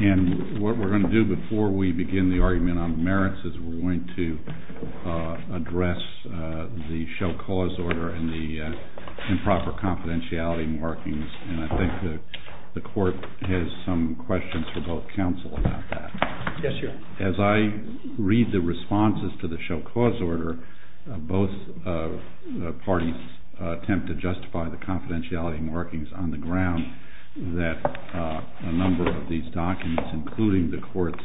And what we're going to do before we begin the argument on merits is we're going to address the show cause order and the improper confidentiality markings, and I think the court has some questions for both counsel about that. Yes, Your Honor. As I read the responses to the show cause order, both parties attempt to justify the confidentiality markings on the ground that a number of these documents, including the court's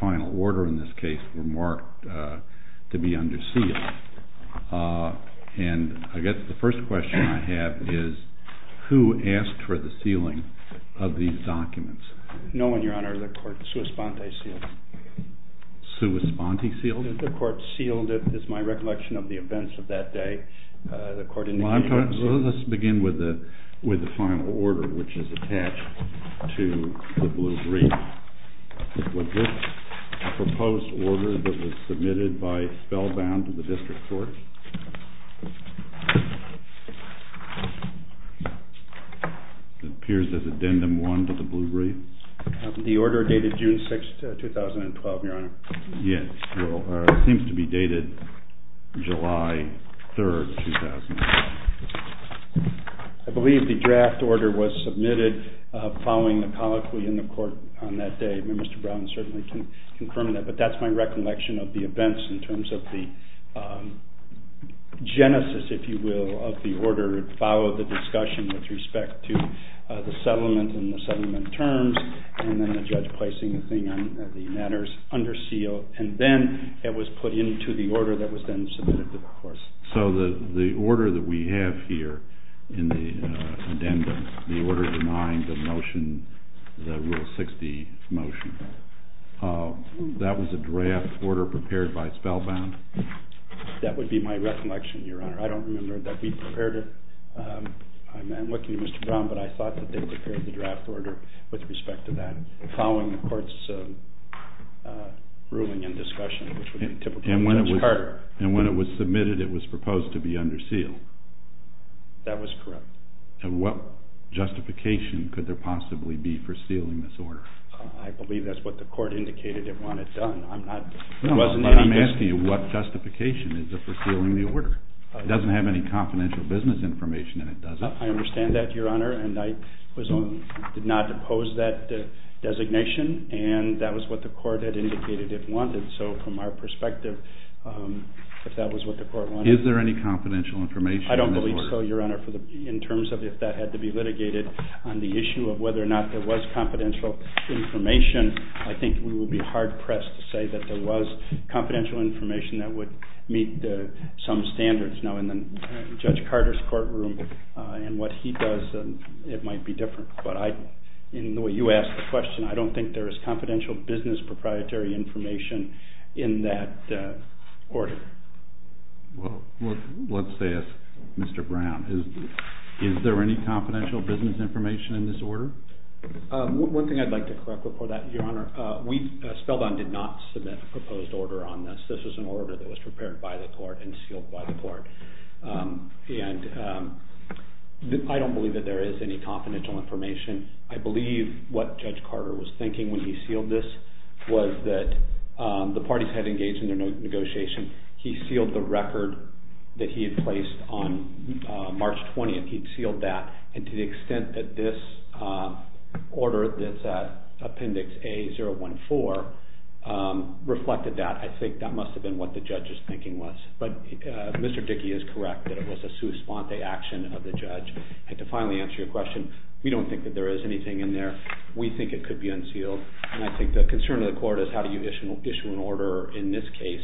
final order in this case, were marked to be under seal. And I guess the first question I have is who asked for the sealing of these documents? No one, Your Honor. The court sui sponte sealed it. Sui sponte sealed it? The court sealed it is my recollection of the events of that day. Well, let's begin with the final order, which is attached to the Blue Brief. Was this a proposed order that was submitted by Spellbound to the district court? It appears as Addendum 1 to the Blue Brief. The order dated June 6, 2012, Your Honor. Yes. Well, it seems to be dated July 3, 2012. I believe the draft order was submitted following the colloquy in the court on that day. Mr. Brown certainly can confirm that. But that's my recollection of the events in terms of the genesis, if you will, of the order. It followed the discussion with respect to the settlement and the settlement terms, and then the judge placing the matters under seal. And then it was put into the order that was then submitted to the courts. So the order that we have here in the addendum, the order denying the motion, the Rule 60 motion, that was a draft order prepared by Spellbound? That would be my recollection, Your Honor. I don't remember that we prepared it. I'm looking to Mr. Brown, but I thought that they prepared the draft order with respect to that following the court's ruling and discussion, which would be typical of a judge's court. And when it was submitted, it was proposed to be under seal? That was correct. And what justification could there possibly be for sealing this order? I believe that's what the court indicated it wanted done. I'm not... No, but I'm asking you what justification is there for sealing the order? It doesn't have any confidential business information, and it doesn't. I understand that, Your Honor, and I did not oppose that designation, and that was what the court had indicated it wanted. So from our perspective, if that was what the court wanted... Is there any confidential information in this order? I don't believe so, Your Honor, in terms of if that had to be litigated on the issue of whether or not there was confidential information. I think we would be hard-pressed to say that there was confidential information that would meet some standards. Now, in Judge Carter's courtroom and what he does, it might be different. But in the way you asked the question, I don't think there is confidential business proprietary information in that order. Well, let's ask Mr. Brown. Is there any confidential business information in this order? One thing I'd like to correct before that, Your Honor, Spellbound did not submit a proposed order on this. This was an order that was prepared by the court and sealed by the court. And I don't believe that there is any confidential information. I believe what Judge Carter was thinking when he sealed this was that the parties had engaged in their negotiation. He sealed the record that he had placed on March 20th. He'd sealed that. And to the extent that this order, this Appendix A-014, reflected that, I think that must have been what the judge's thinking was. But Mr. Dickey is correct that it was a sua sponte action of the judge. And to finally answer your question, we don't think that there is anything in there. We think it could be unsealed. And I think the concern of the court is how do you issue an order in this case?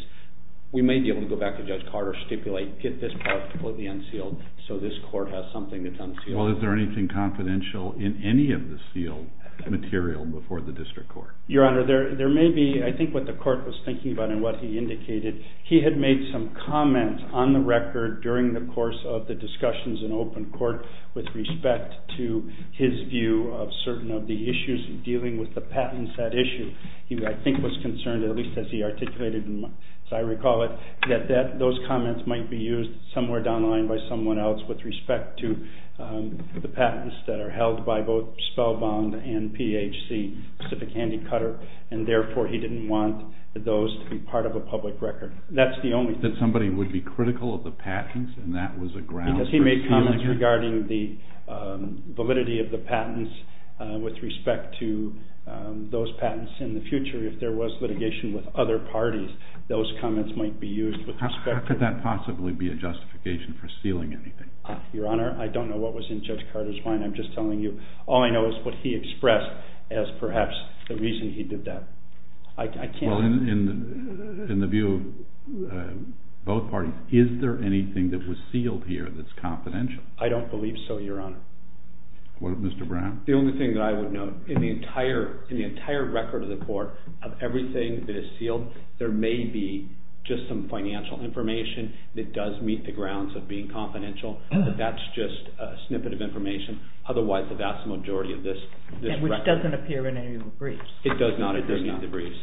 We may be able to go back to Judge Carter, stipulate, get this part completely unsealed so this court has something that's unsealed. Well, is there anything confidential in any of the sealed material before the district court? Your Honor, there may be. I think what the court was thinking about and what he indicated, he had made some comments on the record during the course of the discussions in open court with respect to his view of certain of the issues dealing with the patents at issue. He, I think, was concerned, at least as he articulated, as I recall it, that those comments might be used somewhere down the line by someone else with respect to the patents that are held by both Spellbond and PHC, Pacific Handicutter. And therefore, he didn't want those to be part of a public record. That's the only thing. That somebody would be critical of the patents and that was a ground for sealing it? Because he made comments regarding the validity of the patents with respect to those patents in the future. If there was litigation with other parties, those comments might be used with respect to… Would that possibly be a justification for sealing anything? Your Honor, I don't know what was in Judge Carter's mind. I'm just telling you all I know is what he expressed as perhaps the reason he did that. I can't… Well, in the view of both parties, is there anything that was sealed here that's confidential? I don't believe so, Your Honor. What of Mr. Brown? The only thing that I would note, in the entire record of the court, of everything that is sealed, there may be just some financial information that does meet the grounds of being confidential, but that's just a snippet of information. Otherwise, the vast majority of this record… Which doesn't appear in any of the briefs. It does not. It doesn't in the briefs.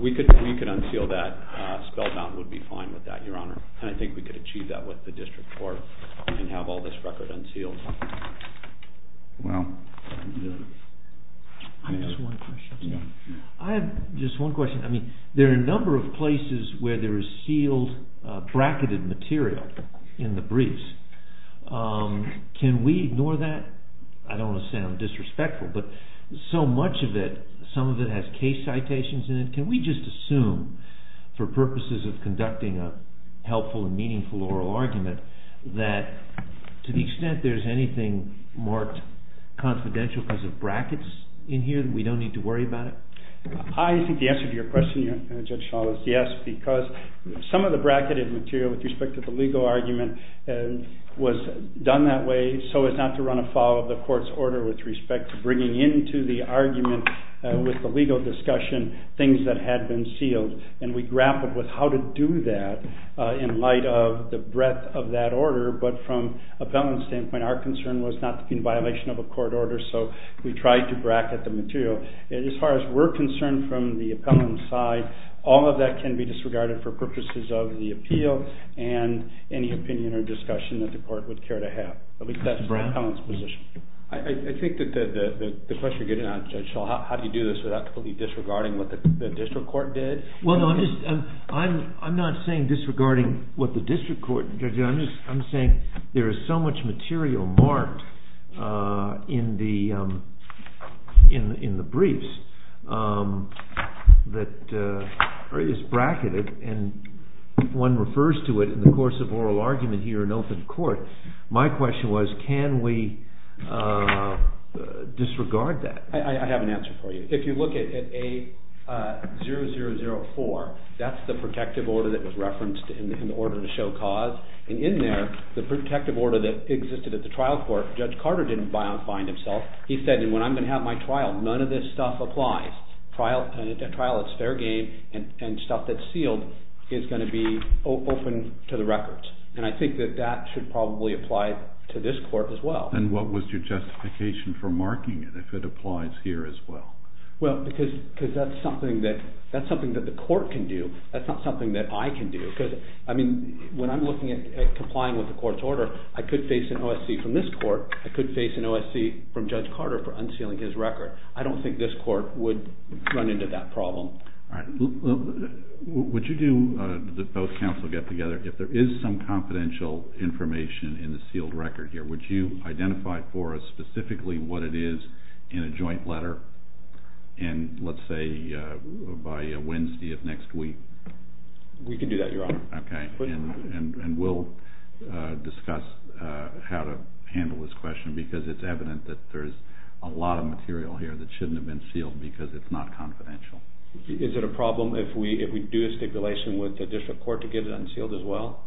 We could unseal that. Spellbond would be fine with that, Your Honor. And I think we could achieve that with the district court and have all this record unsealed. Well… I have just one question. I have just one question. I mean, there are a number of places where there is sealed, bracketed material in the briefs. Can we ignore that? I don't want to sound disrespectful, but so much of it, some of it has case citations in it. Can we just assume, for purposes of conducting a helpful and meaningful oral argument, that to the extent there is anything marked confidential because of brackets in here, that we don't need to worry about it? I think the answer to your question, Judge Schall, is yes, because some of the bracketed material with respect to the legal argument was done that way so as not to run afoul of the court's order with respect to bringing into the argument with the legal discussion things that had been sealed. And we grappled with how to do that in light of the breadth of that order, but from an appellant's standpoint, our concern was not to be in violation of a court order, so we tried to bracket the material. As far as we're concerned from the appellant's side, all of that can be disregarded for purposes of the appeal and any opinion or discussion that the court would care to have. At least that's the appellant's position. I think that the question you're getting at, Judge Schall, how do you do this without completely disregarding what the district court did? Well, no, I'm not saying disregarding what the district court did. I'm saying there is so much material marked in the briefs that is bracketed and one refers to it in the course of oral argument here in open court. My question was can we disregard that? I have an answer for you. If you look at A0004, that's the protective order that was referenced in the order to show cause, and in there, the protective order that existed at the trial court, Judge Carter didn't find himself. He said when I'm going to have my trial, none of this stuff applies. A trial that's fair game and stuff that's sealed is going to be open to the records, and I think that that should probably apply to this court as well. Then what was your justification for marking it if it applies here as well? Well, because that's something that the court can do. That's not something that I can do. I mean, when I'm looking at complying with the court's order, I could face an OSC from this court. I could face an OSC from Judge Carter for unsealing his record. I don't think this court would run into that problem. All right. Would you do, both counsel get together, if there is some confidential information in the sealed record here, would you identify for us specifically what it is in a joint letter, and let's say by Wednesday of next week? We can do that, Your Honor. Okay. And we'll discuss how to handle this question because it's evident that there's a lot of material here that shouldn't have been sealed because it's not confidential. Is it a problem if we do a stipulation with the district court to get it unsealed as well?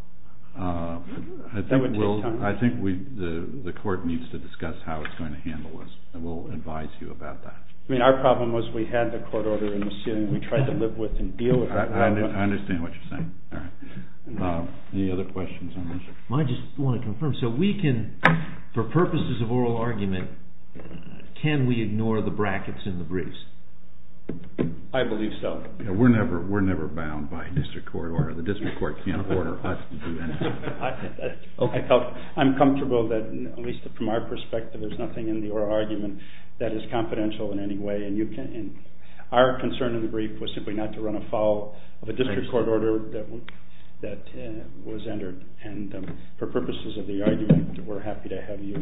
That would take time. I think the court needs to discuss how it's going to handle this, and we'll advise you about that. I mean, our problem was we had the court order unsealed and we tried to live with and deal with that. I understand what you're saying. Any other questions on this? I just want to confirm. So we can, for purposes of oral argument, can we ignore the brackets in the briefs? I believe so. We're never bound by district court order. I'm comfortable that, at least from our perspective, there's nothing in the oral argument that is confidential in any way, and our concern in the brief was simply not to run afoul of a district court order that was entered, and for purposes of the argument, we're happy to have you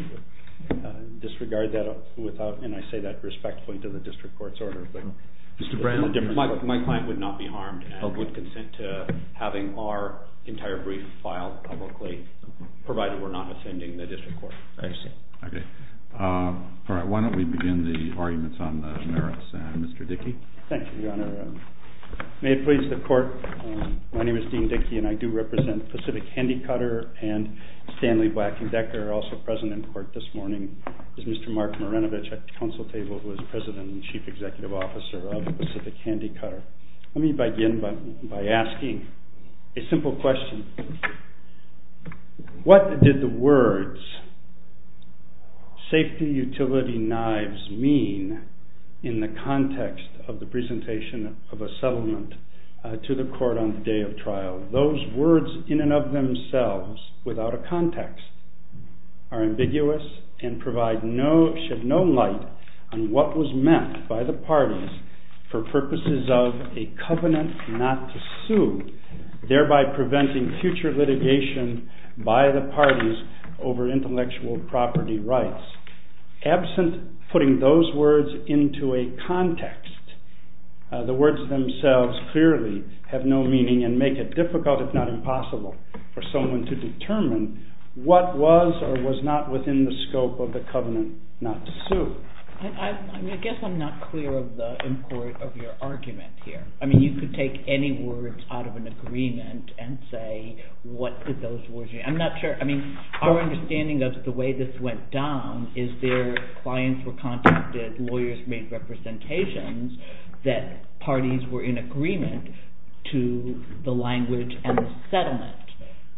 disregard that, and I say that respectfully to the district court's order. Mr. Brown, my client would not be harmed and help with consent to having our entire brief filed publicly, provided we're not offending the district court. I see. Okay. All right, why don't we begin the arguments on the merits. Mr. Dickey? Thank you, Your Honor. May it please the court, my name is Dean Dickey, and I do represent Pacific Handicutter, and Stanley Black and Decker are also present in court this morning. This is Mr. Mark Marinovich at the council table, who is president and chief executive officer of Pacific Handicutter. Let me begin by asking a simple question. What did the words safety utility knives mean in the context of the presentation of a settlement to the court on the day of trial? Those words in and of themselves, without a context, are ambiguous and provide no, shed no light on what was meant by the parties for purposes of a covenant not to sue, thereby preventing future litigation by the parties over intellectual property rights. Absent putting those words into a context, the words themselves clearly have no meaning and make it difficult, if not impossible, for someone to determine what was or was not within the scope of the covenant not to sue. I guess I'm not clear of the import of your argument here. I mean, you could take any words out of an agreement and say, what did those words mean? I'm not sure, I mean, our understanding of the way this went down is their clients were contacted, lawyers made representations that parties were in agreement to the language and the settlement.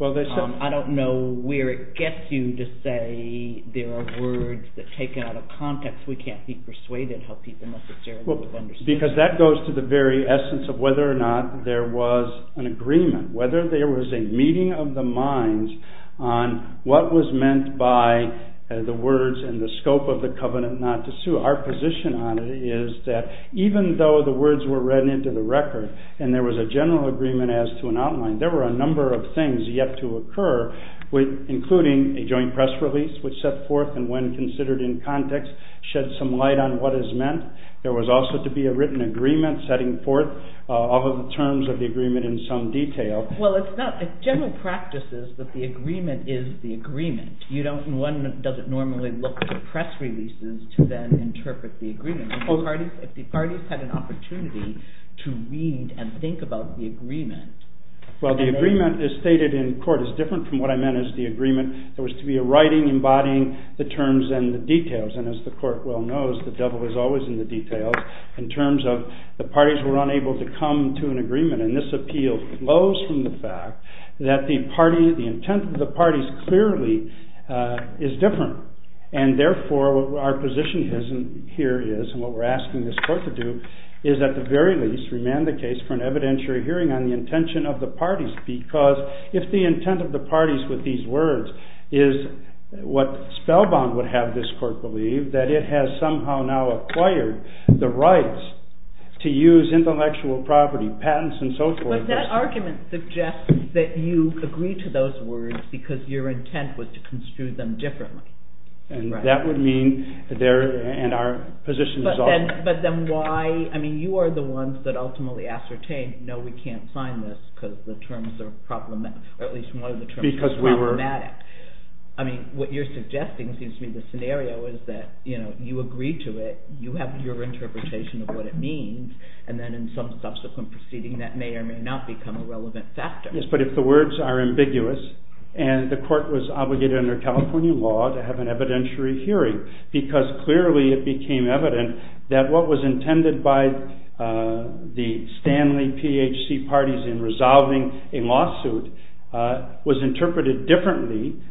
I don't know where it gets you to say there are words that take it out of context. We can't be persuaded how people necessarily would understand. Because that goes to the very essence of whether or not there was an agreement, whether there was a meeting of the minds on what was meant by the words and the scope of the covenant not to sue. Our position on it is that even though the words were read into the record and there was a general agreement as to an outline, there were a number of things yet to occur, including a joint press release which set forth and when considered in context, shed some light on what is meant. There was also to be a written agreement setting forth all of the terms of the agreement in some detail. Well, it's not, the general practice is that the agreement is the agreement. One doesn't normally look to press releases to then interpret the agreement. If the parties had an opportunity to read and think about the agreement. Well, the agreement as stated in court is different from what I meant as the agreement. There was to be a writing embodying the terms and the details and as the court well knows, the devil is always in the details in terms of the parties were unable to come to an agreement and this appeal flows from the fact that the party, the intent of the parties clearly is different and therefore our position here is and what we're asking this court to do is at the very least remand the case for an evidentiary hearing on the intention of the parties because if the intent of the parties with these words is what Spellbound would have this court believe, that it has somehow now acquired the rights to use intellectual property, patents and so forth. But that argument suggests that you agree to those words because your intent was to construe them differently. And that would mean there and our position is off. But then why, I mean you are the ones that ultimately ascertain, no we can't sign this because the terms are problematic, at least one of the terms are problematic. I mean what you're suggesting seems to be the scenario is that you agree to it, you have your interpretation of what it means and then in some subsequent proceeding that may or may not become a relevant factor. Yes, but if the words are ambiguous and the court was obligated under California law to have an evidentiary hearing because clearly it became evident that what was intended by the Stanley PHC parties in resolving a lawsuit was interpreted differently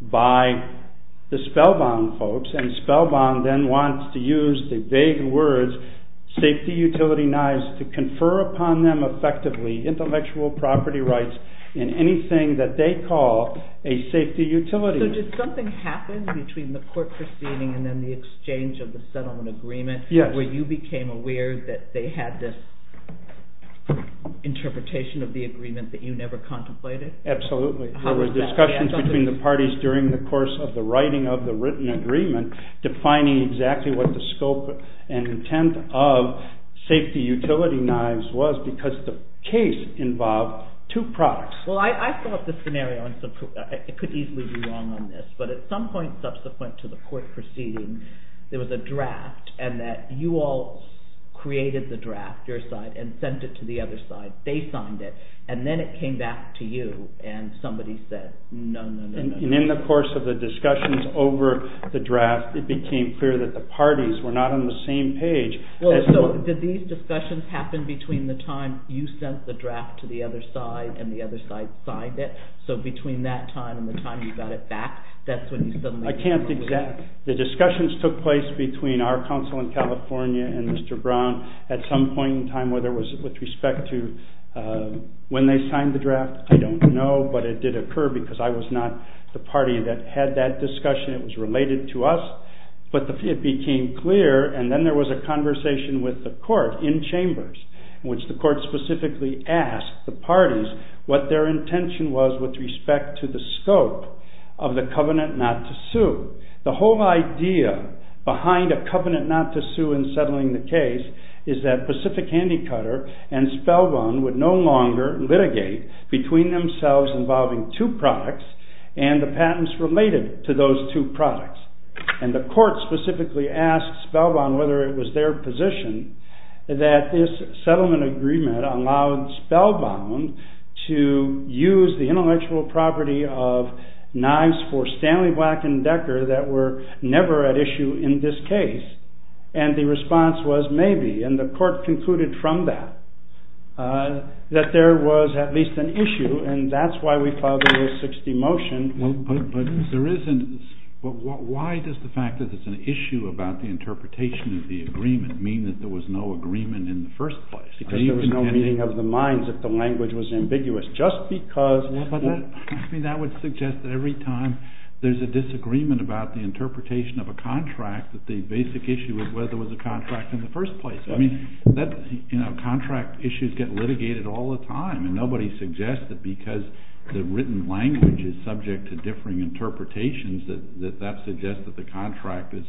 by the Spellbound folks and Spellbound then wants to use the vague words safety utility knives to confer upon them effectively intellectual property rights in anything that they call a safety utility. So did something happen between the court proceeding and then the exchange of the settlement agreement where you became aware that they had this interpretation of the agreement that you never contemplated? Absolutely, there were discussions between the parties during the course of the writing of the written agreement defining exactly what the scope and intent of safety utility knives was because the case involved two products. Well I thought the scenario could easily be wrong on this, but at some point subsequent to the court proceeding there was a draft and that you all created the draft, your side, and sent it to the other side. They signed it and then it came back to you and somebody said no, no, no. And in the course of the discussions over the draft it became clear that the parties were not on the same page. So did these discussions happen between the time you sent the draft to the other side and the other side signed it? So between that time and the time you got it back that's when you suddenly… The discussions took place between our counsel in California and Mr. Brown at some point in time whether it was with respect to when they signed the draft, I don't know, but it did occur because I was not the party that had that discussion, it was related to us. But it became clear and then there was a conversation with the court in chambers in which the court specifically asked the parties what their intention was with respect to the scope of the covenant not to sue. The whole idea behind a covenant not to sue in settling the case is that Pacific Handicutter and Spellbound would no longer litigate between themselves involving two products and the patents related to those two products. And the court specifically asked Spellbound whether it was their position that this settlement agreement allowed Spellbound to use the intellectual property of knives for Stanley Black and Decker that were never at issue in this case. And the response was maybe and the court concluded from that that there was at least an issue and that's why we filed the 60 motion. But why does the fact that there's an issue about the interpretation of the agreement mean that there was no agreement in the first place? Because there was no meeting of the minds that the language was ambiguous just because... I mean that would suggest that every time there's a disagreement about the interpretation of a contract that the basic issue is whether it was a contract in the first place. I mean, you know, contract issues get litigated all the time and nobody suggests that because the written language is subject to differing interpretations that that suggests that the contract is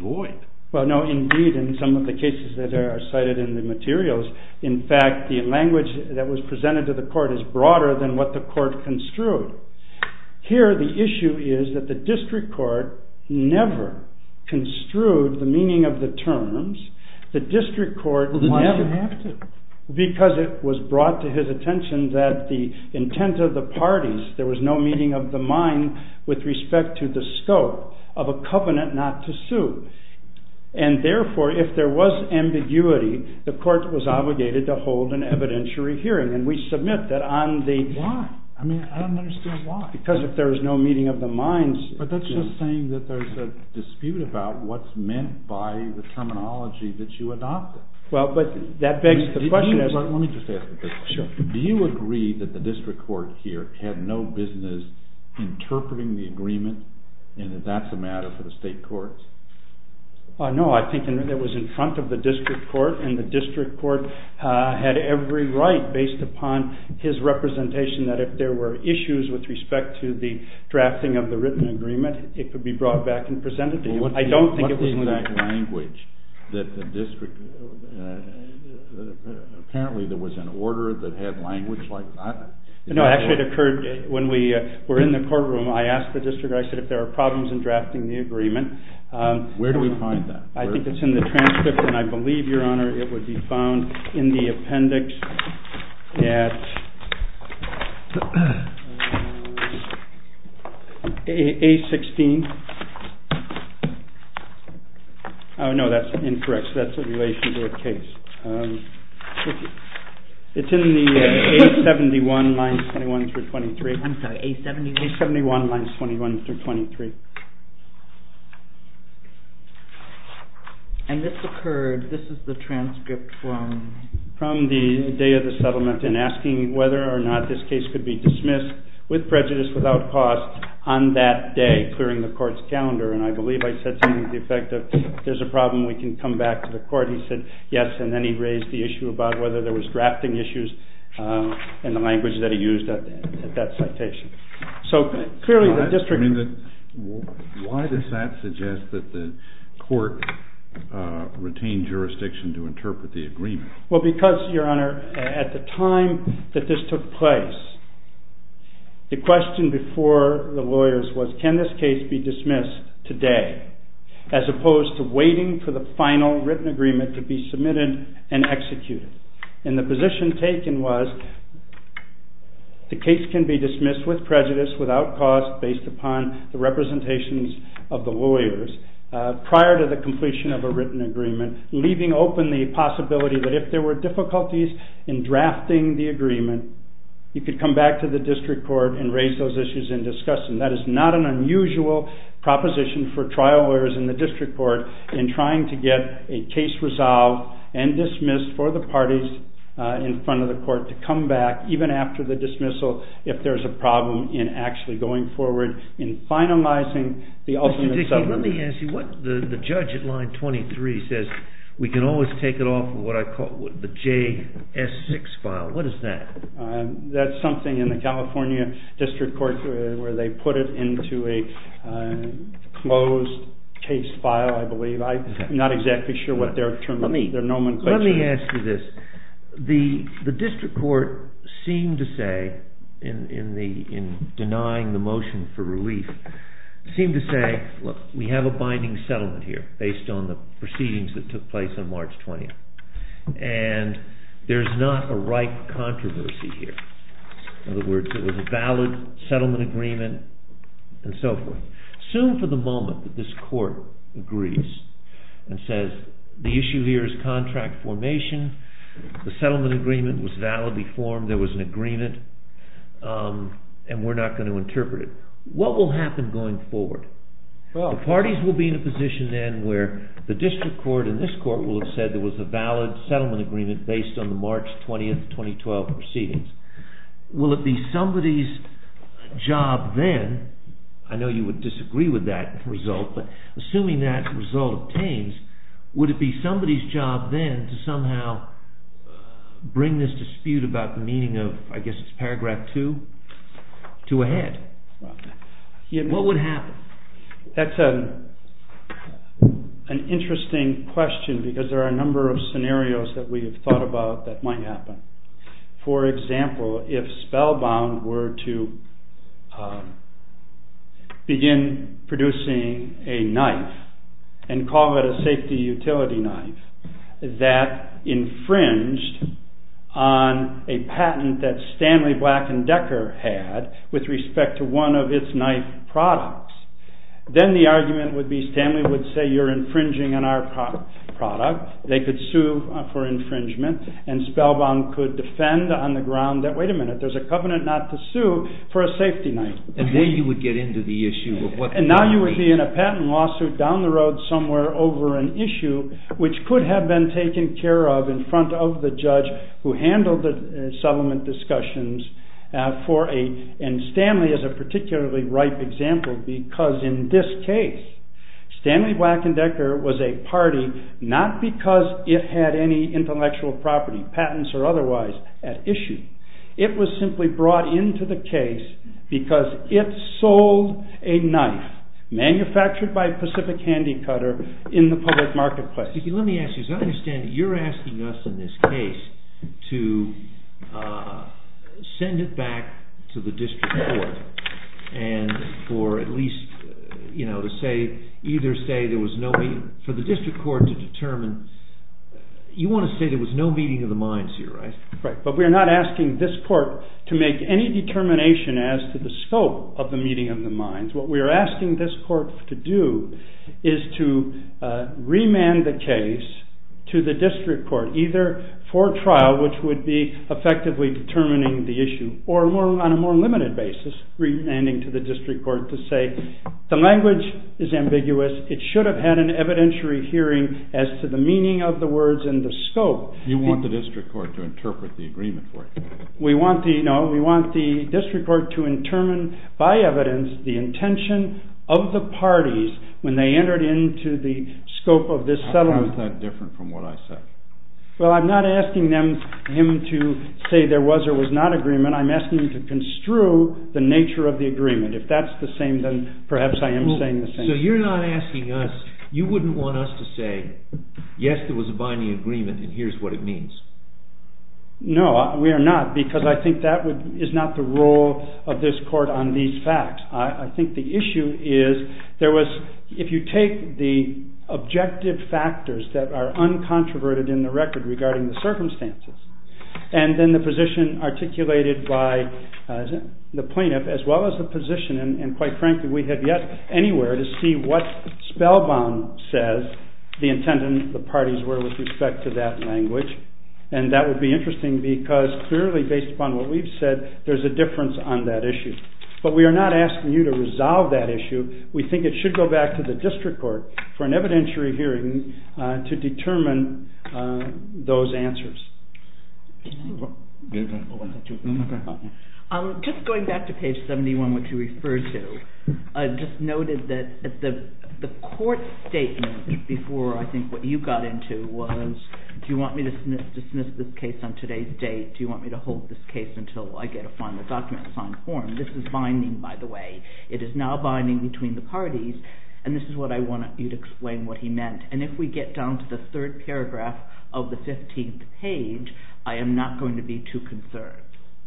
void. Well no, indeed in some of the cases that are cited in the materials in fact the language that was presented to the court is broader than what the court construed. Here the issue is that the district court never construed the meaning of the terms. The district court never... Why did it have to? Because it was brought to his attention that the intent of the parties, there was no meeting of the mind with respect to the scope of a covenant not to sue. And therefore if there was ambiguity the court was obligated to hold an evidentiary hearing and we submit that on the... Why? I mean, I don't understand why. Because if there was no meeting of the minds... But that's just saying that there's a dispute about what's meant by the terminology that you adopted. Well, but that begs the question... Let me just ask a question. Sure. Do you agree that the district court here had no business interpreting the agreement and that that's a matter for the state courts? No, I think it was in front of the district court and the district court had every right based upon his representation that if there were issues with respect to the drafting of the written agreement it could be brought back and presented to him. I don't think it was... What's the exact language that the district... Apparently there was an order that had language like that? No, actually it occurred when we were in the courtroom I asked the district, I said if there were problems in drafting the agreement... Where do we find that? I think it's in the transcript and I believe, Your Honor, it would be found in the appendix at A-16. Oh, no, that's incorrect. That's in relation to a case. It's in the A-71, lines 21 through 23. I'm sorry, A-71? A-71, lines 21 through 23. And this occurred, this is the transcript from... From the day of the settlement in asking whether or not this case could be dismissed with prejudice without cause on that day, clearing the court's calendar and I believe I said something to the effect of if there's a problem we can come back to the court. He said yes and then he raised the issue about whether there was drafting issues in the language that he used at that citation. So clearly the district... Why does that suggest that the court retained jurisdiction to interpret the agreement? Well, because, Your Honor, at the time that this took place the question before the lawyers was can this case be dismissed today as opposed to waiting for the final written agreement to be submitted and executed. And the position taken was the case can be dismissed with prejudice without cause based upon the representations of the lawyers prior to the completion of a written agreement leaving open the possibility that if there were difficulties in drafting the agreement you could come back to the district court and raise those issues in discussion. That is not an unusual proposition for trial lawyers in the district court in trying to get a case resolved and dismissed for the parties in front of the court to come back even after the dismissal if there's a problem in actually going forward in finalizing the ultimate settlement. Mr. Dickey, let me ask you what the judge at line 23 says. We can always take it off of what I call the JS6 file. What is that? That's something in the California district court where they put it into a closed case file, I believe. I'm not exactly sure what their terminology, their nomenclature is. Let me ask you this. The district court seemed to say in denying the motion for relief seemed to say, look, we have a binding settlement here based on the proceedings that took place on March 20th. There's not a right controversy here. In other words, it was a valid settlement agreement and so forth. Assume for the moment that this court agrees and says the issue here is contract formation, the settlement agreement was validly formed, there was an agreement, and we're not going to interpret it. What will happen going forward? The parties will be in a position then where the district court and this court will have said there was a valid settlement agreement based on the March 20th, 2012 proceedings. Will it be somebody's job then, I know you would disagree with that result, but assuming that result obtains, would it be somebody's job then to somehow bring this dispute about the meaning of, I guess it's paragraph 2, to a head? What would happen? That's an interesting question because there are a number of scenarios that we have thought about that might happen. For example, if Spellbound were to begin producing a knife and call it a safety utility knife that infringed on a patent that Stanley Black and Decker had with respect to one of its knife products, then the argument would be Stanley would say you're infringing on our product, they could sue for infringement, and Spellbound could defend on the ground that, wait a minute, there's a covenant not to sue for a safety knife. And then you would get into the issue of what... And now you would be in a patent lawsuit down the road somewhere over an issue which could have been taken care of in front of the judge who handled the settlement discussions. And Stanley is a particularly ripe example because in this case, Stanley Black and Decker was a party not because it had any intellectual property, patents or otherwise, at issue. It was simply brought into the case because it sold a knife manufactured by Pacific Handicutter in the public marketplace. Let me ask you, as I understand it, you're asking us in this case to send it back to the district court and for at least, you know, to say either say there was no... For the district court to determine... You want to say there was no meeting of the minds here, right? Right, but we're not asking this court to make any determination as to the scope of the meeting of the minds. What we're asking this court to do is to remand the case to the district court either for trial which would be effectively determining the issue or on a more limited basis remanding to the district court to say the language is ambiguous, it should have had an evidentiary hearing as to the meaning of the words and the scope. We want the district court to determine by evidence the intention of the parties when they entered into the scope of this settlement. How is that different from what I said? Well, I'm not asking him to say there was or was not agreement, I'm asking him to construe the nature of the agreement. If that's the same then perhaps I am saying the same. So you're not asking us, you wouldn't want us to say yes, there was a binding agreement and here's what it means. No, we are not because I think that is not the role of this court on these facts. I think the issue is if you take the objective factors that are uncontroverted in the record regarding the circumstances and then the position articulated by the plaintiff as well as the position and quite frankly we have yet anywhere to see what Spellbaum says the intent of the parties were with respect to that language and that would be interesting because clearly based upon what we've said there's a difference on that issue. But we are not asking you to resolve that issue, we think it should go back to the district court for an evidentiary hearing to determine those answers. Just going back to page 71 which you referred to, I just noted that the court statement before I think what you got into was do you want me to dismiss this case on today's date, do you want me to hold this case until I get a final document, a signed form, this is binding by the way, it is now binding between the parties and this is what I want you to explain what he meant and if we get down to the third paragraph of the 15th page I am not going to be too concerned.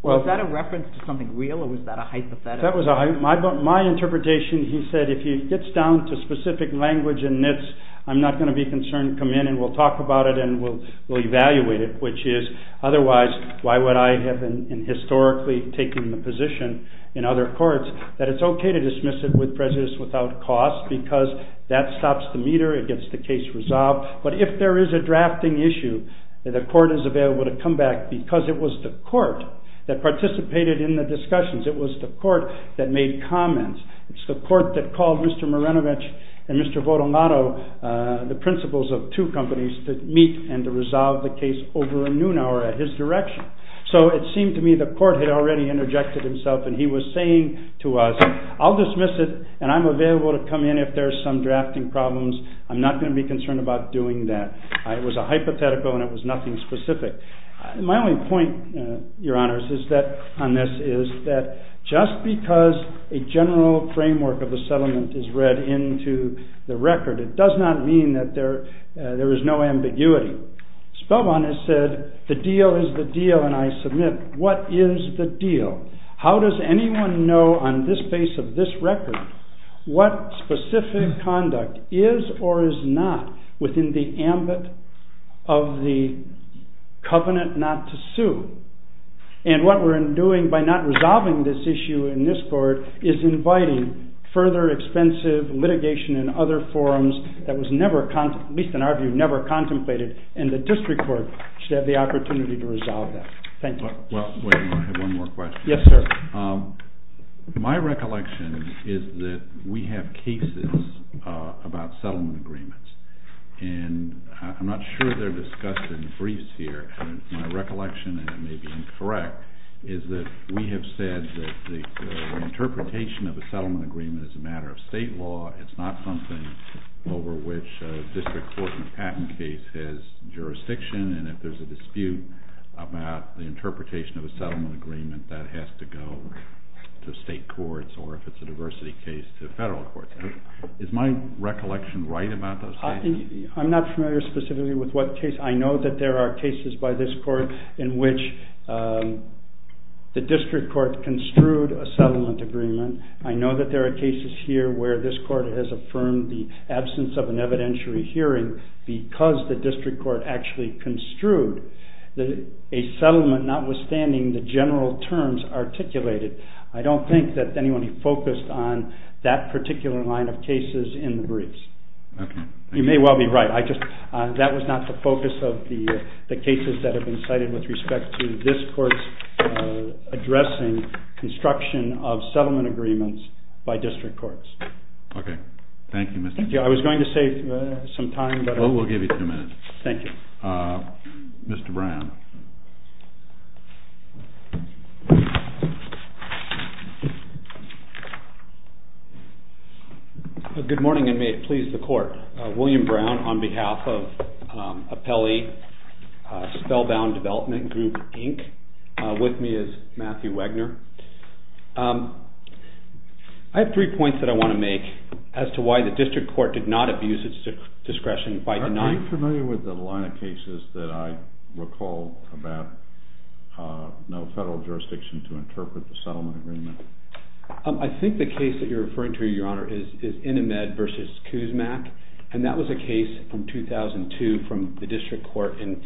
Was that a reference to something real or was that a hypothetical? My interpretation he said if he gets down to specific language and myths I'm not going to be concerned, come in and we'll talk about it and we'll evaluate it which is otherwise why would I have historically taken the position in other courts that it's okay to dismiss it with prejudice without cause because that stops the meter, it gets the case resolved, but if there is a drafting issue the court is available to come back because it was the court that participated in the discussions, it was the court that made comments, it's the court that called Mr. Marinovich and Mr. Votomato the principals of two companies to meet and to resolve the case over a noon hour at his direction. So it seemed to me the court had already interjected himself and he was saying to us I'll dismiss it and I'm available to come in if there is some drafting problems, I'm not going to be concerned about doing that. It was a hypothetical and it was nothing specific. My only point, your honors, on this is that just because a general framework of a settlement is read into the record it does not mean that there is no ambiguity. Spellbon has said the deal is the deal and I submit what is the deal? How does anyone know on this base of this record what specific conduct is or is not within the ambit of the covenant not to sue? And what we're doing by not resolving this issue in this court is inviting further expensive litigation in other forums that was never, at least in our view, never contemplated and the district court should have the opportunity to resolve that. Thank you. I have one more question. Yes, sir. My recollection is that we have cases about settlement agreements and I'm not sure they're discussed in the briefs here. My recollection, and it may be incorrect, is that we have said that the interpretation of a settlement agreement is a matter of state law. It's not something over which a district court in a patent case has jurisdiction and if there's a dispute about the interpretation of a settlement agreement that has to go to state courts or if it's a diversity case to federal courts. Is my recollection right about those cases? I'm not familiar specifically with what case. I know that there are cases by this court in which the district court construed a settlement agreement. I know that there are cases here where this court has affirmed the absence of an evidentiary hearing because the district court actually construed a settlement notwithstanding the general terms articulated. I don't think that anyone focused on that particular line of cases in the briefs. Okay. You may well be right. That was not the focus of the cases that have been cited with respect to this court's addressing construction of settlement agreements by district courts. Okay. Thank you, Mr. Brown. Thank you. I was going to save some time. Oh, we'll give you two minutes. Thank you. Mr. Brown. Good morning, and may it please the court. William Brown on behalf of Appellee Spellbound Development Group, Inc. With me is Matthew Wegner. I have three points that I want to make as to why the district court did not abuse its discretion by denying… Are you familiar with the line of cases that I recall about no federal jurisdiction to interpret the settlement agreement? I think the case that you're referring to, Your Honor, is Inimed v. Kuzmak, and that was a case from 2002 from the district court in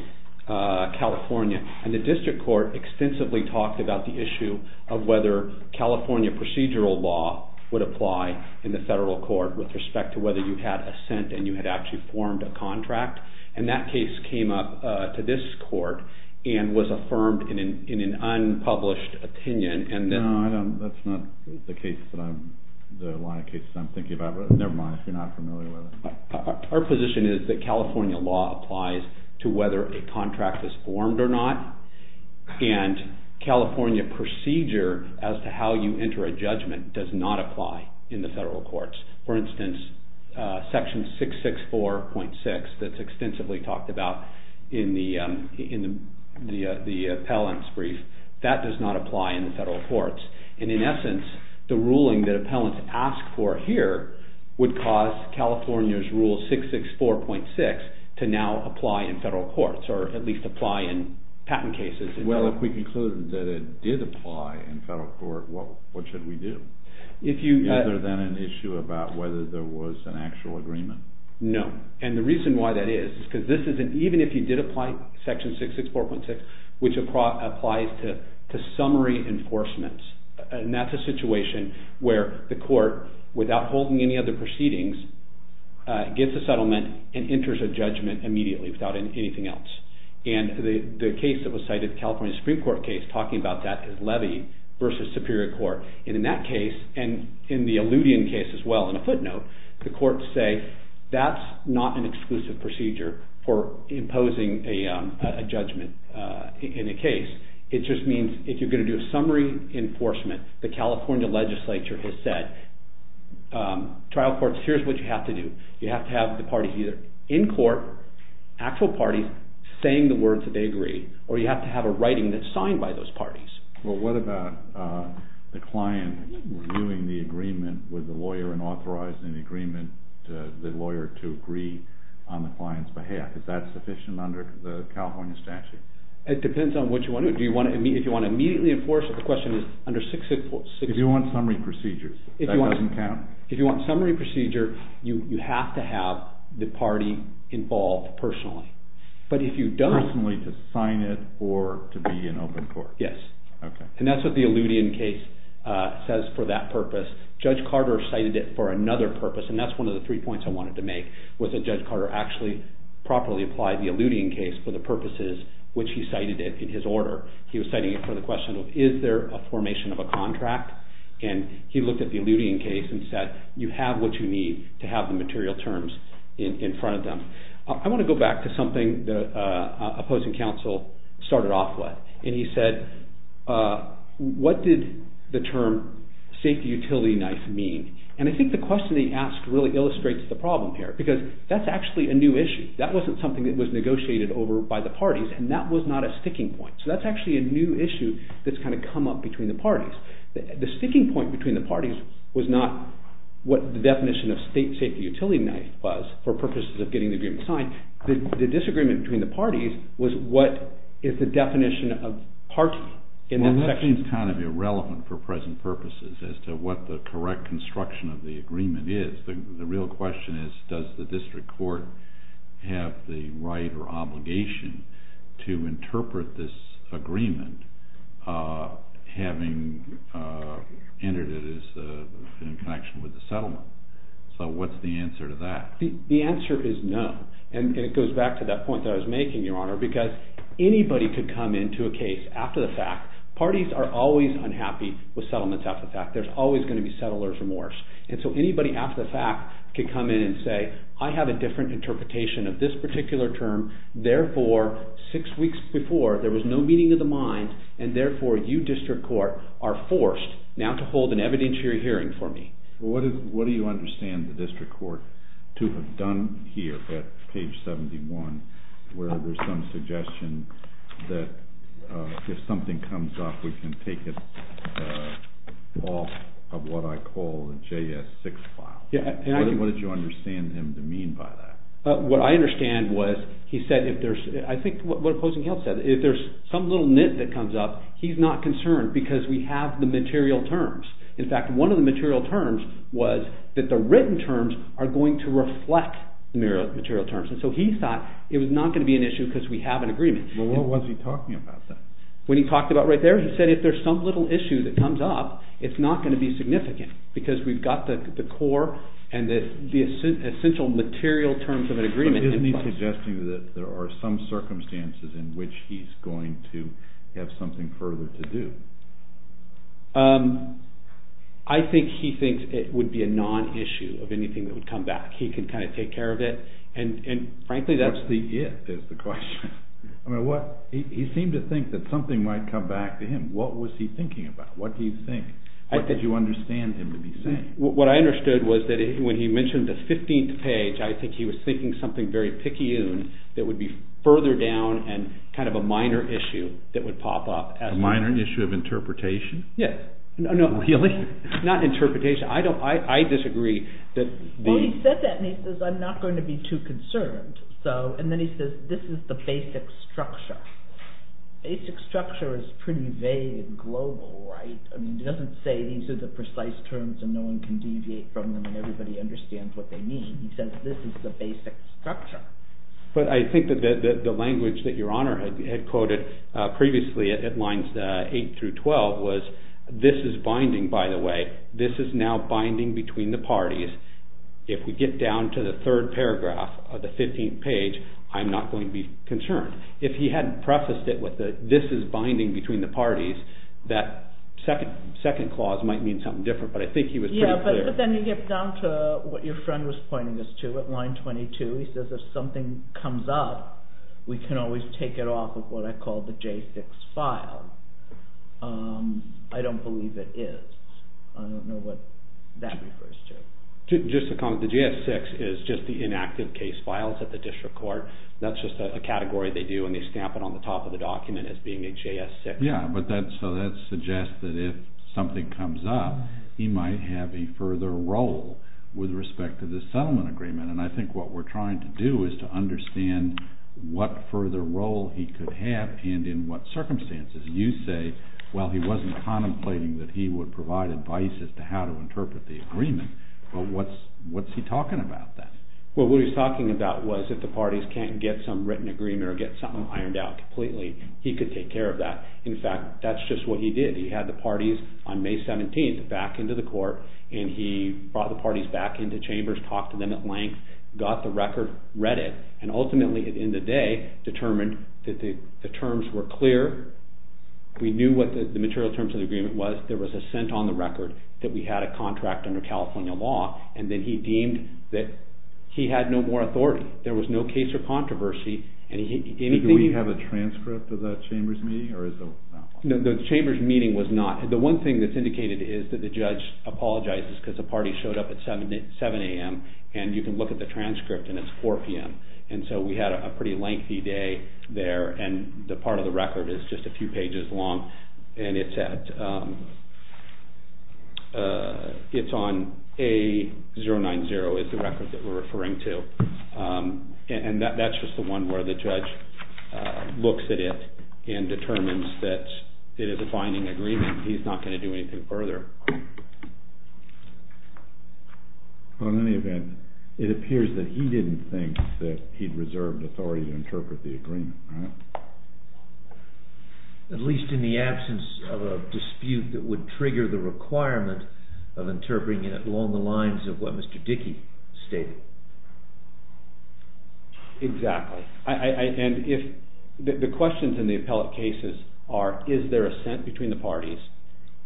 California, and the district court extensively talked about the issue of whether California procedural law would apply in the federal court with respect to whether you had assent and you had actually formed a contract, and that case came up to this court and was affirmed in an unpublished opinion. No, that's not the line of cases I'm thinking about, but never mind if you're not familiar with it. Our position is that California law applies to whether a contract is formed or not, and California procedure as to how you enter a judgment does not apply in the federal courts. For instance, Section 664.6 that's extensively talked about in the appellant's brief, that does not apply in the federal courts, and in essence the ruling that appellants ask for here would cause California's Rule 664.6 to now apply in federal courts, or at least apply in patent cases. Well, if we conclude that it did apply in federal court, what should we do? Other than an issue about whether there was an actual agreement. No, and the reason why that is, is because even if you did apply Section 664.6, which applies to summary enforcements, and that's a situation where the court, without holding any other proceedings, gets a settlement and enters a judgment immediately without anything else. And the case that was cited, the California Supreme Court case, talking about that is levy versus superior court, and in that case, and in the Alludian case as well, in a footnote, the courts say that's not an exclusive procedure for imposing a judgment in a case. It just means if you're going to do a summary enforcement, the California legislature has said, trial courts, here's what you have to do. You have to have the parties either in court, actual parties, saying the words that they agree, or you have to have a writing that's signed by those parties. Well, what about the client renewing the agreement with the lawyer and authorizing the lawyer to agree on the client's behalf? Is that sufficient under the California statute? It depends on what you want to do. If you want to immediately enforce it, the question is under 664.6. If you want summary procedures, that doesn't count? If you want summary procedure, you have to have the party involved personally. But if you don't... Personally to sign it or to be in open court. Yes. And that's what the Alludian case says for that purpose. Judge Carter cited it for another purpose, and that's one of the three points I wanted to make, was that Judge Carter actually properly applied the Alludian case for the purposes which he cited in his order. He was citing it for the question of, is there a formation of a contract? And he looked at the Alludian case and said, you have what you need to have the material terms in front of them. I want to go back to something the opposing counsel started off with. And he said, what did the term safety utility knife mean? And I think the question he asked really illustrates the problem here because that's actually a new issue. That wasn't something that was negotiated over by the parties, and that was not a sticking point. So that's actually a new issue that's kind of come up between the parties. The sticking point between the parties was not what the definition of safety utility knife was for purposes of getting the agreement signed. The disagreement between the parties was what is the definition of party in that section? Well, that seems kind of irrelevant for present purposes as to what the correct construction of the agreement is. The real question is, does the district court have the right or obligation to interpret this agreement having entered it in connection with the settlement? So what's the answer to that? The answer is no. And it goes back to that point that I was making, Your Honor, because anybody could come into a case after the fact. Parties are always unhappy with settlements after the fact. There's always going to be settler's remorse. And so anybody after the fact could come in and say, I have a different interpretation of this particular term. Therefore, six weeks before, there was no meeting of the mind, and therefore you, district court, are forced now to hold an evidentiary hearing for me. What do you understand the district court to have done here at page 71 where there's some suggestion that if something comes up, we can take it off of what I call a JS6 file? What did you understand him to mean by that? What I understand was he said if there's, I think what opposing counsel said, if there's some little nit that comes up, he's not concerned because we have the material terms. In fact, one of the material terms was that the written terms are going to reflect the material terms. And so he thought it was not going to be an issue because we have an agreement. Well, what was he talking about then? What he talked about right there, he said if there's some little issue that comes up, it's not going to be significant because we've got the core and the essential material terms of an agreement in place. But isn't he suggesting that there are some circumstances in which he's going to have something further to do? I think he thinks it would be a non-issue of anything that would come back. He could kind of take care of it. And frankly, that's... What's the if is the question. I mean, what, he seemed to think that something might come back to him. What was he thinking about? What do you think? What did you understand him to be saying? What I understood was that when he mentioned the 15th page, I think he was thinking something very picayune that would be further down and kind of a minor issue that would pop up. A minor issue of interpretation? Yes. No, really? Not interpretation. I disagree that the... Well, he said that and he says, I'm not going to be too concerned. So, and then he says, this is the basic structure. Basic structure is pretty vague and global, right? I mean, he doesn't say these are the precise terms and no one can deviate from them and everybody understands what they mean. He says this is the basic structure. But I think that the language that Your Honor had quoted previously at lines 8 through 12 was, this is binding, by the way. This is now binding between the parties. If we get down to the third paragraph of the 15th page, I'm not going to be concerned. If he hadn't prefaced it with, this is binding between the parties, that second clause might mean something different, but I think he was pretty clear. Yeah, but then you get down to what your friend was pointing us to at line 22. He says if something comes up, we can always take it off of what I call the J6 file. I don't believe it is. I don't know what that refers to. Just a comment. The J6 is just the inactive case files at the district court. That's just a category they do and they stamp it on the top of the document as being a J6. Yeah, but that suggests that if something comes up, he might have a further role with respect to the settlement agreement. And I think what we're trying to do is to understand what further role he could have and in what circumstances. You say, well, he wasn't contemplating that he would provide advice as to how to interpret the agreement, but what's he talking about then? Well, what he was talking about was if the parties can't get some written agreement or get something ironed out completely, he could take care of that. In fact, that's just what he did. He had the parties on May 17th back into the court and he brought the parties back into chambers, talked to them at length, got the record, read it, and ultimately at the end of the day determined that the terms were clear. We knew what the material terms of the agreement was. There was a cent on the record that we had a contract under California law and then he deemed that he had no more authority. There was no case or controversy. Did we have a transcript of that chambers meeting? No, the chambers meeting was not. because the parties showed up at 7 a.m. and you can look at the transcript and it's 4 p.m. and so we had a pretty lengthy day there and the part of the record is just a few pages long and it's on A090 is the record that we're referring to and that's just the one where the judge looks at it and determines that it is a binding agreement. He's not going to do anything further. Well, in any event, it appears that he didn't think that he'd reserved authority to interpret the agreement. At least in the absence of a dispute that would trigger the requirement of interpreting it along the lines of what Mr. Dickey stated. Exactly, and the questions in the appellate cases are is there assent between the parties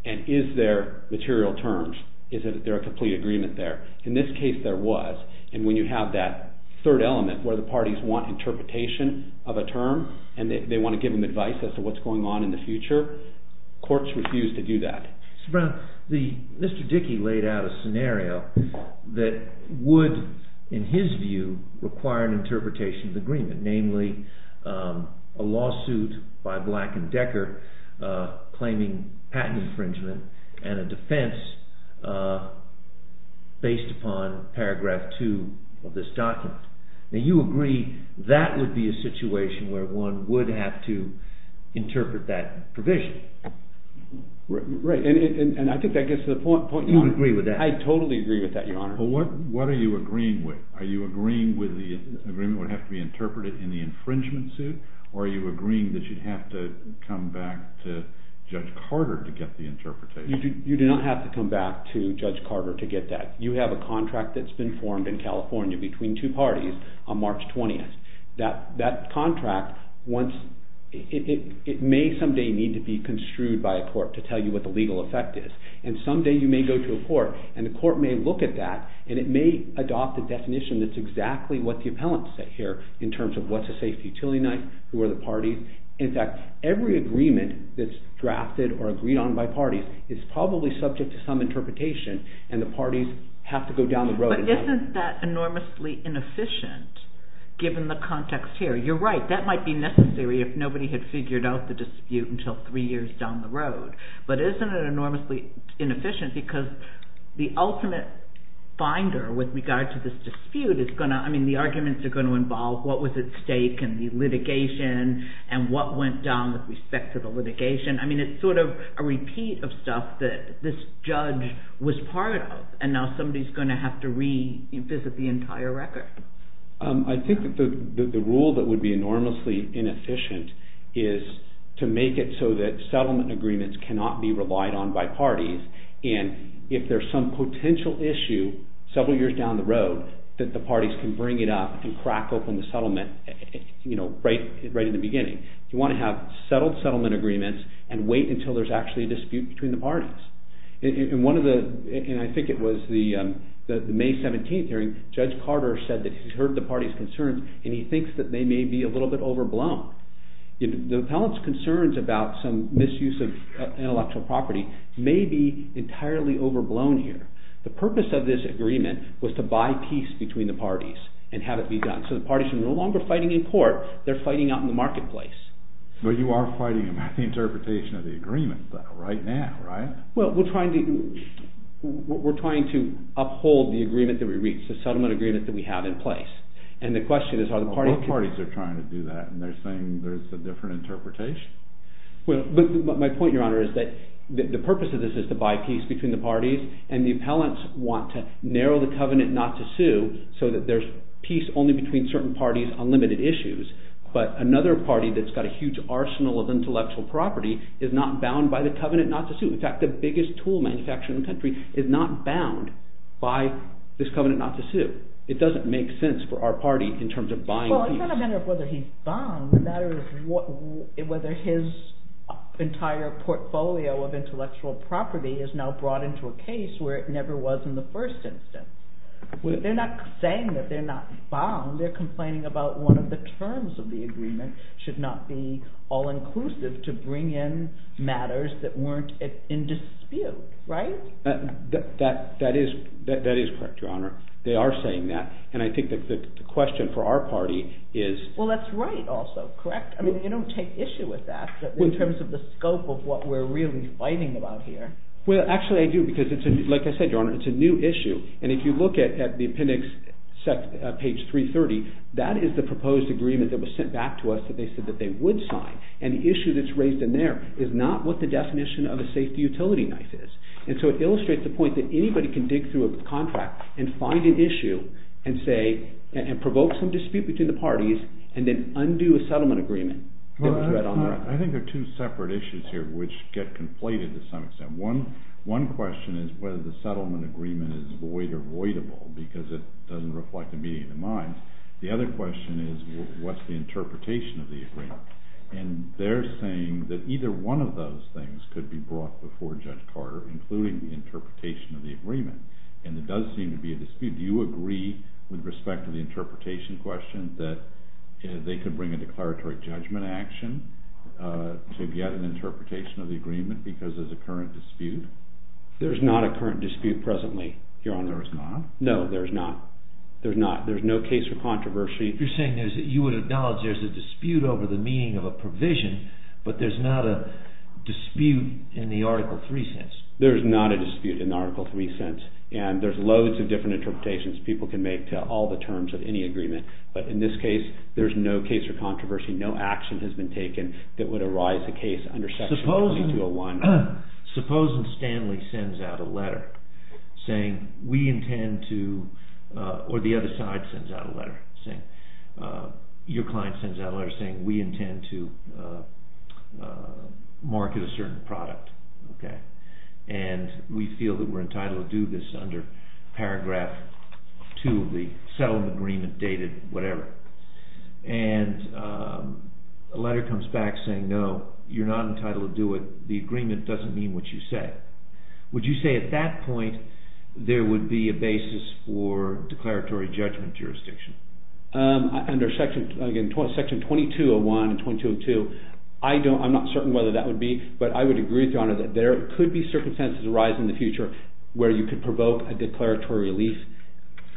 and is there material terms? Is there a complete agreement there? In this case there was and when you have that third element where the parties want interpretation of a term and they want to give them advice as to what's going on in the future, courts refuse to do that. Mr. Brown, Mr. Dickey laid out a scenario that would, in his view, require an interpretation agreement namely a lawsuit by Black and Decker claiming patent infringement and a defense based upon paragraph 2 of this document. Now you agree that would be a situation where one would have to interpret that provision? Right, and I think that gets to the point, Your Honor. You agree with that? I totally agree with that, Your Honor. What are you agreeing with? Are you agreeing with the agreement would have to be interpreted in the infringement suit or are you agreeing that you'd have to come back to Judge Carter to get the interpretation? You do not have to come back to Judge Carter to get that. You have a contract that's been formed in California between two parties on March 20th. That contract, it may someday need to be construed by a court to tell you what the legal effect is and someday you may go to a court and the court may look at that and it may adopt a definition that's exactly what the appellant said here in terms of what's a safety utility knife, who are the parties. In fact, every agreement that's drafted or agreed on by parties is probably subject to some interpretation and the parties have to go down the road. But isn't that enormously inefficient given the context here? You're right, that might be necessary if nobody had figured out the dispute until three years down the road. But isn't it enormously inefficient because the ultimate finder with regard to this dispute is going to, I mean the arguments are going to involve what was at stake in the litigation and what went down with respect to the litigation. I mean it's sort of a repeat of stuff that this judge was part of and now somebody's going to have to revisit the entire record. I think that the rule that would be enormously inefficient is to make it so that settlement agreements cannot be relied on by parties and if there's some potential issue several years down the road that the parties can bring it up and crack open the settlement right in the beginning. You want to have settled settlement agreements and wait until there's actually a dispute between the parties. In one of the, and I think it was the May 17th hearing, Judge Carter said that he's heard the party's concerns and he thinks that they may be a little bit overblown. The appellant's concerns about some misuse of intellectual property may be entirely overblown here. The purpose of this agreement was to buy peace between the parties and have it be done. So the parties are no longer fighting in court, they're fighting out in the marketplace. But you are fighting about the interpretation of the agreement though, right now, right? Well, we're trying to uphold the agreement that we reached, the settlement agreement that we have in place. And the question is are the parties... Well, both parties are trying to do that and they're saying there's a different interpretation? But my point, Your Honor, is that the purpose of this is to buy peace between the parties and the appellants want to narrow the covenant not to sue so that there's peace only between certain parties on limited issues. But another party that's got a huge arsenal of intellectual property is not bound by the covenant not to sue. In fact, the biggest tool manufacturer in the country is not bound by this covenant not to sue. It doesn't make sense for our party in terms of buying peace. Well, it's not a matter of whether he's bound. The matter is whether his entire portfolio of intellectual property is now brought into a case where it never was in the first instance. They're not saying that they're not bound. They're complaining about one of the terms of the agreement should not be all-inclusive to bring in matters that weren't in dispute, right? That is correct, Your Honor. They are saying that. And I think the question for our party is... Well, that's right also, correct? I mean, you don't take issue with that in terms of the scope of what we're really fighting about here. Well, actually, I do because, like I said, Your Honor, it's a new issue. And if you look at the appendix, page 330, that is the proposed agreement that was sent back to us that they said that they would sign. And the issue that's raised in there is not what the definition of a safety utility knife is. And so it illustrates the point that anybody can dig through a contract and find an issue and provoke some dispute between the parties and then undo a settlement agreement. I think there are two separate issues here which get conflated to some extent. One question is whether the settlement agreement is void or voidable because it doesn't reflect a meeting of the minds. The other question is what's the interpretation of the agreement? And they're saying that either one of those things could be brought before Judge Carter, including the interpretation of the agreement. And there does seem to be a dispute. Do you agree with respect to the interpretation question that they could bring a declaratory judgment action to get an interpretation of the agreement because there's a current dispute? There's not a current dispute presently, Your Honor. There's not? No, there's not. There's not. There's no case for controversy. You're saying that you would acknowledge there's a dispute over the meaning of a provision, but there's not a dispute in the Article 3 sense? There's not a dispute in the Article 3 sense. And there's loads of different interpretations people can make to all the terms of any agreement. But in this case, there's no case for controversy. No action has been taken that would arise a case under Section 2201. Supposing Stanley sends out a letter saying, we intend to... Or the other side sends out a letter saying... Your client sends out a letter saying, we intend to market a certain product. And we feel that we're entitled to do this under Paragraph 2 of the settlement agreement dated whatever. And a letter comes back saying, no, you're not entitled to do it. The agreement doesn't mean what you say. Would you say at that point there would be a basis for declaratory judgment jurisdiction? Under Section 2201 and 2202, I'm not certain whether that would be, but I would agree with Your Honor that there could be circumstances arising in the future where you could provoke a declaratory relief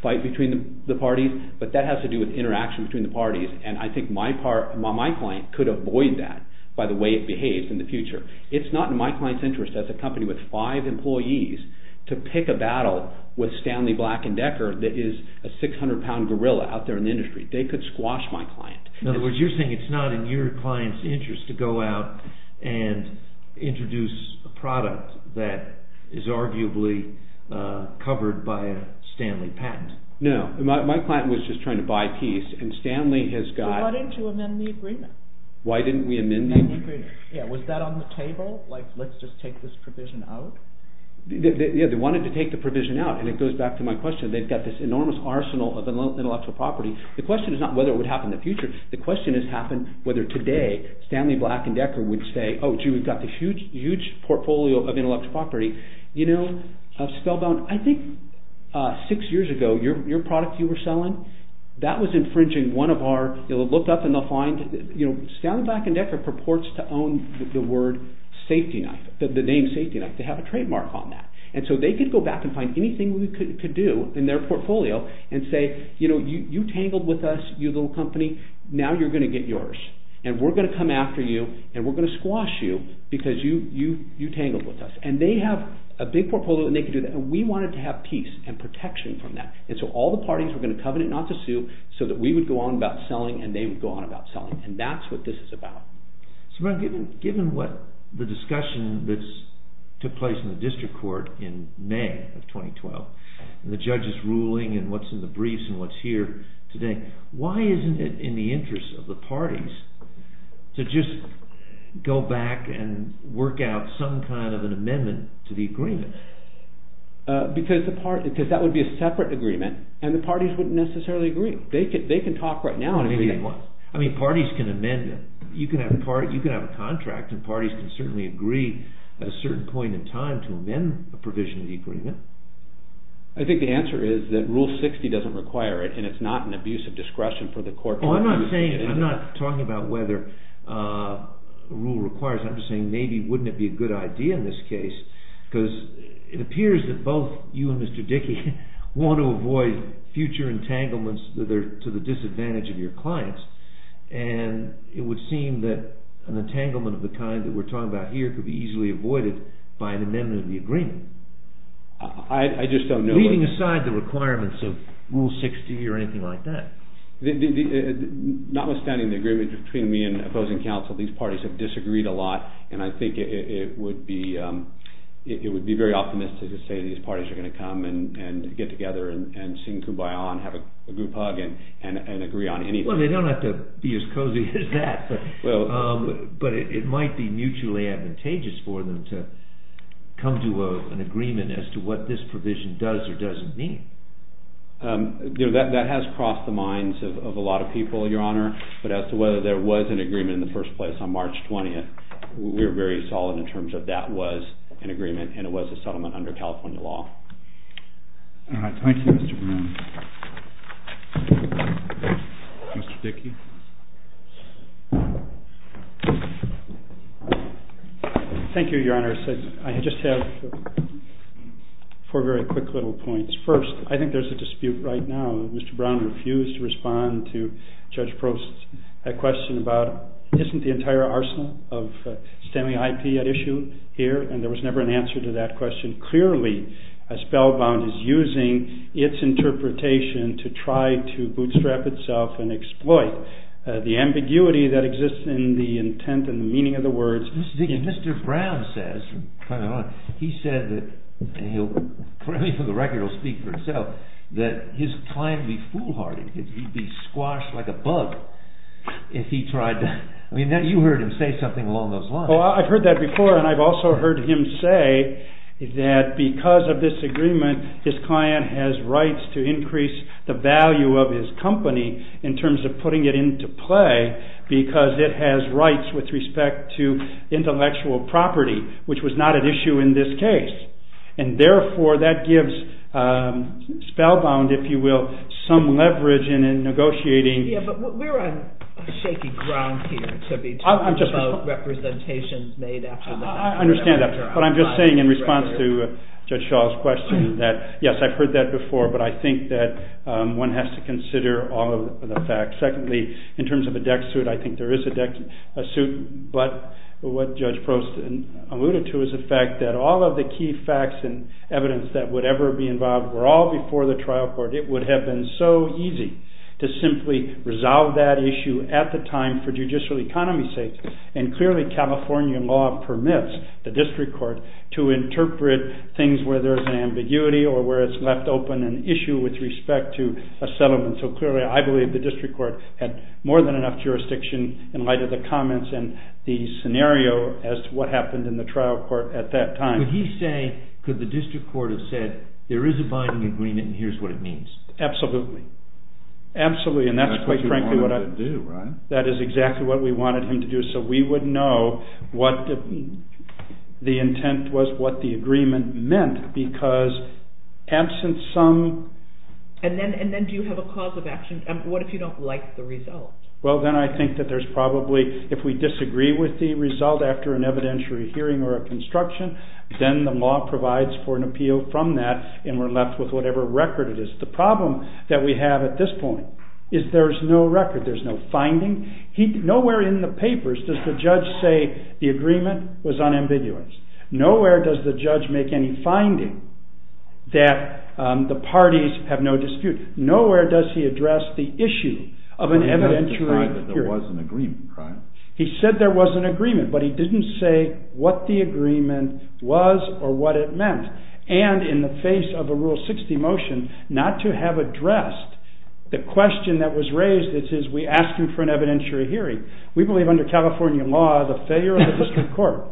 fight between the parties. But that has to do with interaction between the parties. And I think my client could avoid that by the way it behaves in the future. It's not in my client's interest as a company with five employees to pick a battle with Stanley Black & Decker that is a 600-pound gorilla out there in the industry. They could squash my client. In other words, you're saying it's not in your client's interest to go out and introduce a product that is arguably covered by a Stanley patent. No, my client was just trying to buy peace. And Stanley has got... They wanted to amend the agreement. Why didn't we amend the agreement? Yeah, was that on the table? Like, let's just take this provision out? Yeah, they wanted to take the provision out. And it goes back to my question. They've got this enormous arsenal of intellectual property. The question is not whether it would happen in the future. The question is whether today Stanley Black & Decker would say, oh gee, we've got the huge, huge portfolio of intellectual property. You know, Spellbound, I think six years ago your product you were selling, that was infringing one of our... They'll look up and they'll find... You know, Stanley Black & Decker purports to own the word safety knife, the name safety knife. They have a trademark on that. And so they could go back and find anything we could do in their portfolio and say, you know, you tangled with us, you little company, now you're gonna get yours. And we're gonna come after you and we're gonna squash you because you tangled with us. And they have a big portfolio and they can do that. And we wanted to have peace and protection from that. And so all the parties were gonna covenant not to sue so that we would go on about selling and they would go on about selling. And that's what this is about. So given what the discussion that's... took place in the district court in May of 2012, and the judge's ruling and what's in the briefs and what's here today, why isn't it in the interest of the parties to just go back and work out some kind of an amendment to the agreement? Because that would be a separate agreement and the parties wouldn't necessarily agree. They can talk right now and agree at once. I mean, parties can amend it. You can have a contract and parties can certainly agree at a certain point in time to amend a provision of the agreement. I think the answer is that Rule 60 doesn't require it and it's not an abuse of discretion for the court... No, I'm not saying... I'm not talking about whether a rule requires it. I'm just saying maybe wouldn't it be a good idea in this case because it appears that both you and Mr. Dickey want to avoid future entanglements that are to the disadvantage of your clients and it would seem that an entanglement of the kind that we're talking about here could be easily avoided by an amendment of the agreement. I just don't know... Leaving aside the requirements of Rule 60 or anything like that. Notwithstanding the agreement between me and opposing counsel, these parties have disagreed a lot and I think it would be very optimistic to say these parties are going to come and get together and sing Kumbaya and have a group hug and agree on anything. Well, they don't have to be as cozy as that, but it might be mutually advantageous for them to come to an agreement as to what this provision does or doesn't mean. That has crossed the minds of a lot of people, Your Honor, but as to whether there was an agreement in the first place on March 20th, we're very solid in terms of that was an agreement and it was a settlement under California law. Thank you, Mr. Brown. Mr. Dickey. Thank you, Your Honor. I just have four very quick little points. First, I think there's a dispute right now. Mr. Brown refused to respond to Judge Probst's question about isn't the entire arsenal of STEMI IP at issue here? And there was never an answer to that question. Clearly, Spellbound is using its interpretation to try to bootstrap itself and exploit the ambiguity that exists in the intent and the meaning of the words. Mr. Brown says, Your Honor, he said that, for the record, he'll speak for himself, that his client would be foolhardy. He'd be squashed like a bug if he tried to... I mean, you heard him say something along those lines. Well, I've heard that before, and I've also heard him say that because of this agreement, his client has rights to increase the value of his company in terms of putting it into play because it has rights with respect to intellectual property, which was not at issue in this case. And therefore, that gives Spellbound, if you will, some leverage in negotiating... Yeah, but we're on shaky ground here to be talking about representations made after the fact. I understand that, but I'm just saying in response to Judge Shaw's question that, yes, I've heard that before, but I think that one has to consider all of the facts. Secondly, in terms of a DEC suit, I think there is a DEC suit, but what Judge Prost alluded to is the fact that all of the key facts and evidence that would ever be involved were all before the trial court. It would have been so easy to simply resolve that issue at the time for judicial economy's sake, and clearly California law permits the district court to interpret things where there's an ambiguity or where it's left open an issue with respect to a settlement. So clearly, I believe the district court had more than enough jurisdiction in light of the comments and the scenario as to what happened in the trial court at that time. Would he say, could the district court have said, there is a binding agreement and here's what it means? Absolutely. Absolutely, and that's quite frankly what I... That's what you wanted him to do, right? That is exactly what we wanted him to do, so we would know what the intent was, what the agreement meant, because absent some... And then do you have a cause of action? What if you don't like the result? Well, then I think that there's probably... If we disagree with the result after an evidentiary hearing or a construction, then the law provides for an appeal from that and we're left with whatever record it is. The problem that we have at this point is there's no record, there's no finding. Nowhere in the papers does the judge say the agreement was unambiguous. Nowhere does the judge make any finding that the parties have no dispute. Nowhere does he address the issue of an evidentiary hearing. He said there was an agreement, right? He said there was an agreement, but he didn't say what the agreement was or what it meant. And in the face of a Rule 60 motion, not to have addressed the question that was raised, it says we ask you for an evidentiary hearing. We believe under California law the failure of the district court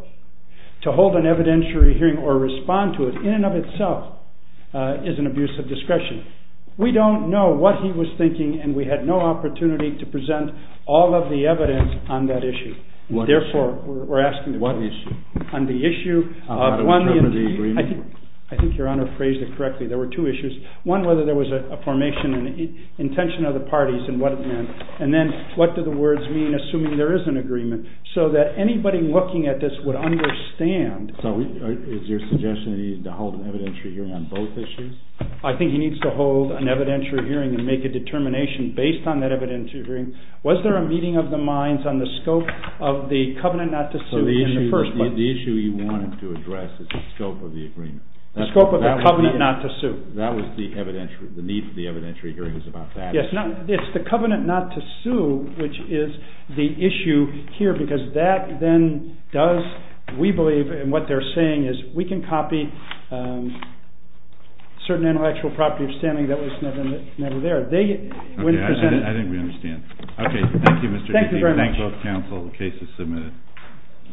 to hold an evidentiary hearing or respond to it in and of itself is an abuse of discretion. We don't know what he was thinking and we had no opportunity to present all of the evidence on that issue. Therefore, we're asking... What issue? On the issue of... How to interpret the agreement? I think Your Honor phrased it correctly. There were two issues. One, whether there was a formation and intention of the parties and what it meant. And then what do the words mean assuming there is an agreement so that anybody looking at this would understand... So is your suggestion that he needed to hold an evidentiary hearing on both issues? I think he needs to hold an evidentiary hearing and make a determination based on that evidentiary hearing. Was there a meeting of the minds on the scope of the covenant not to sue in the first place? So the issue you wanted to address is the scope of the agreement. The scope of the covenant not to sue. That was the evidentiary... The need for the evidentiary hearing was about that. Yes, it's the covenant not to sue which is the issue here because that then does, we believe, and what they're saying is we can copy certain intellectual property of standing that was never there. Okay, I think we understand. Okay, thank you Mr. Heapy. Thank you very much. Thank both counsel. The case is submitted.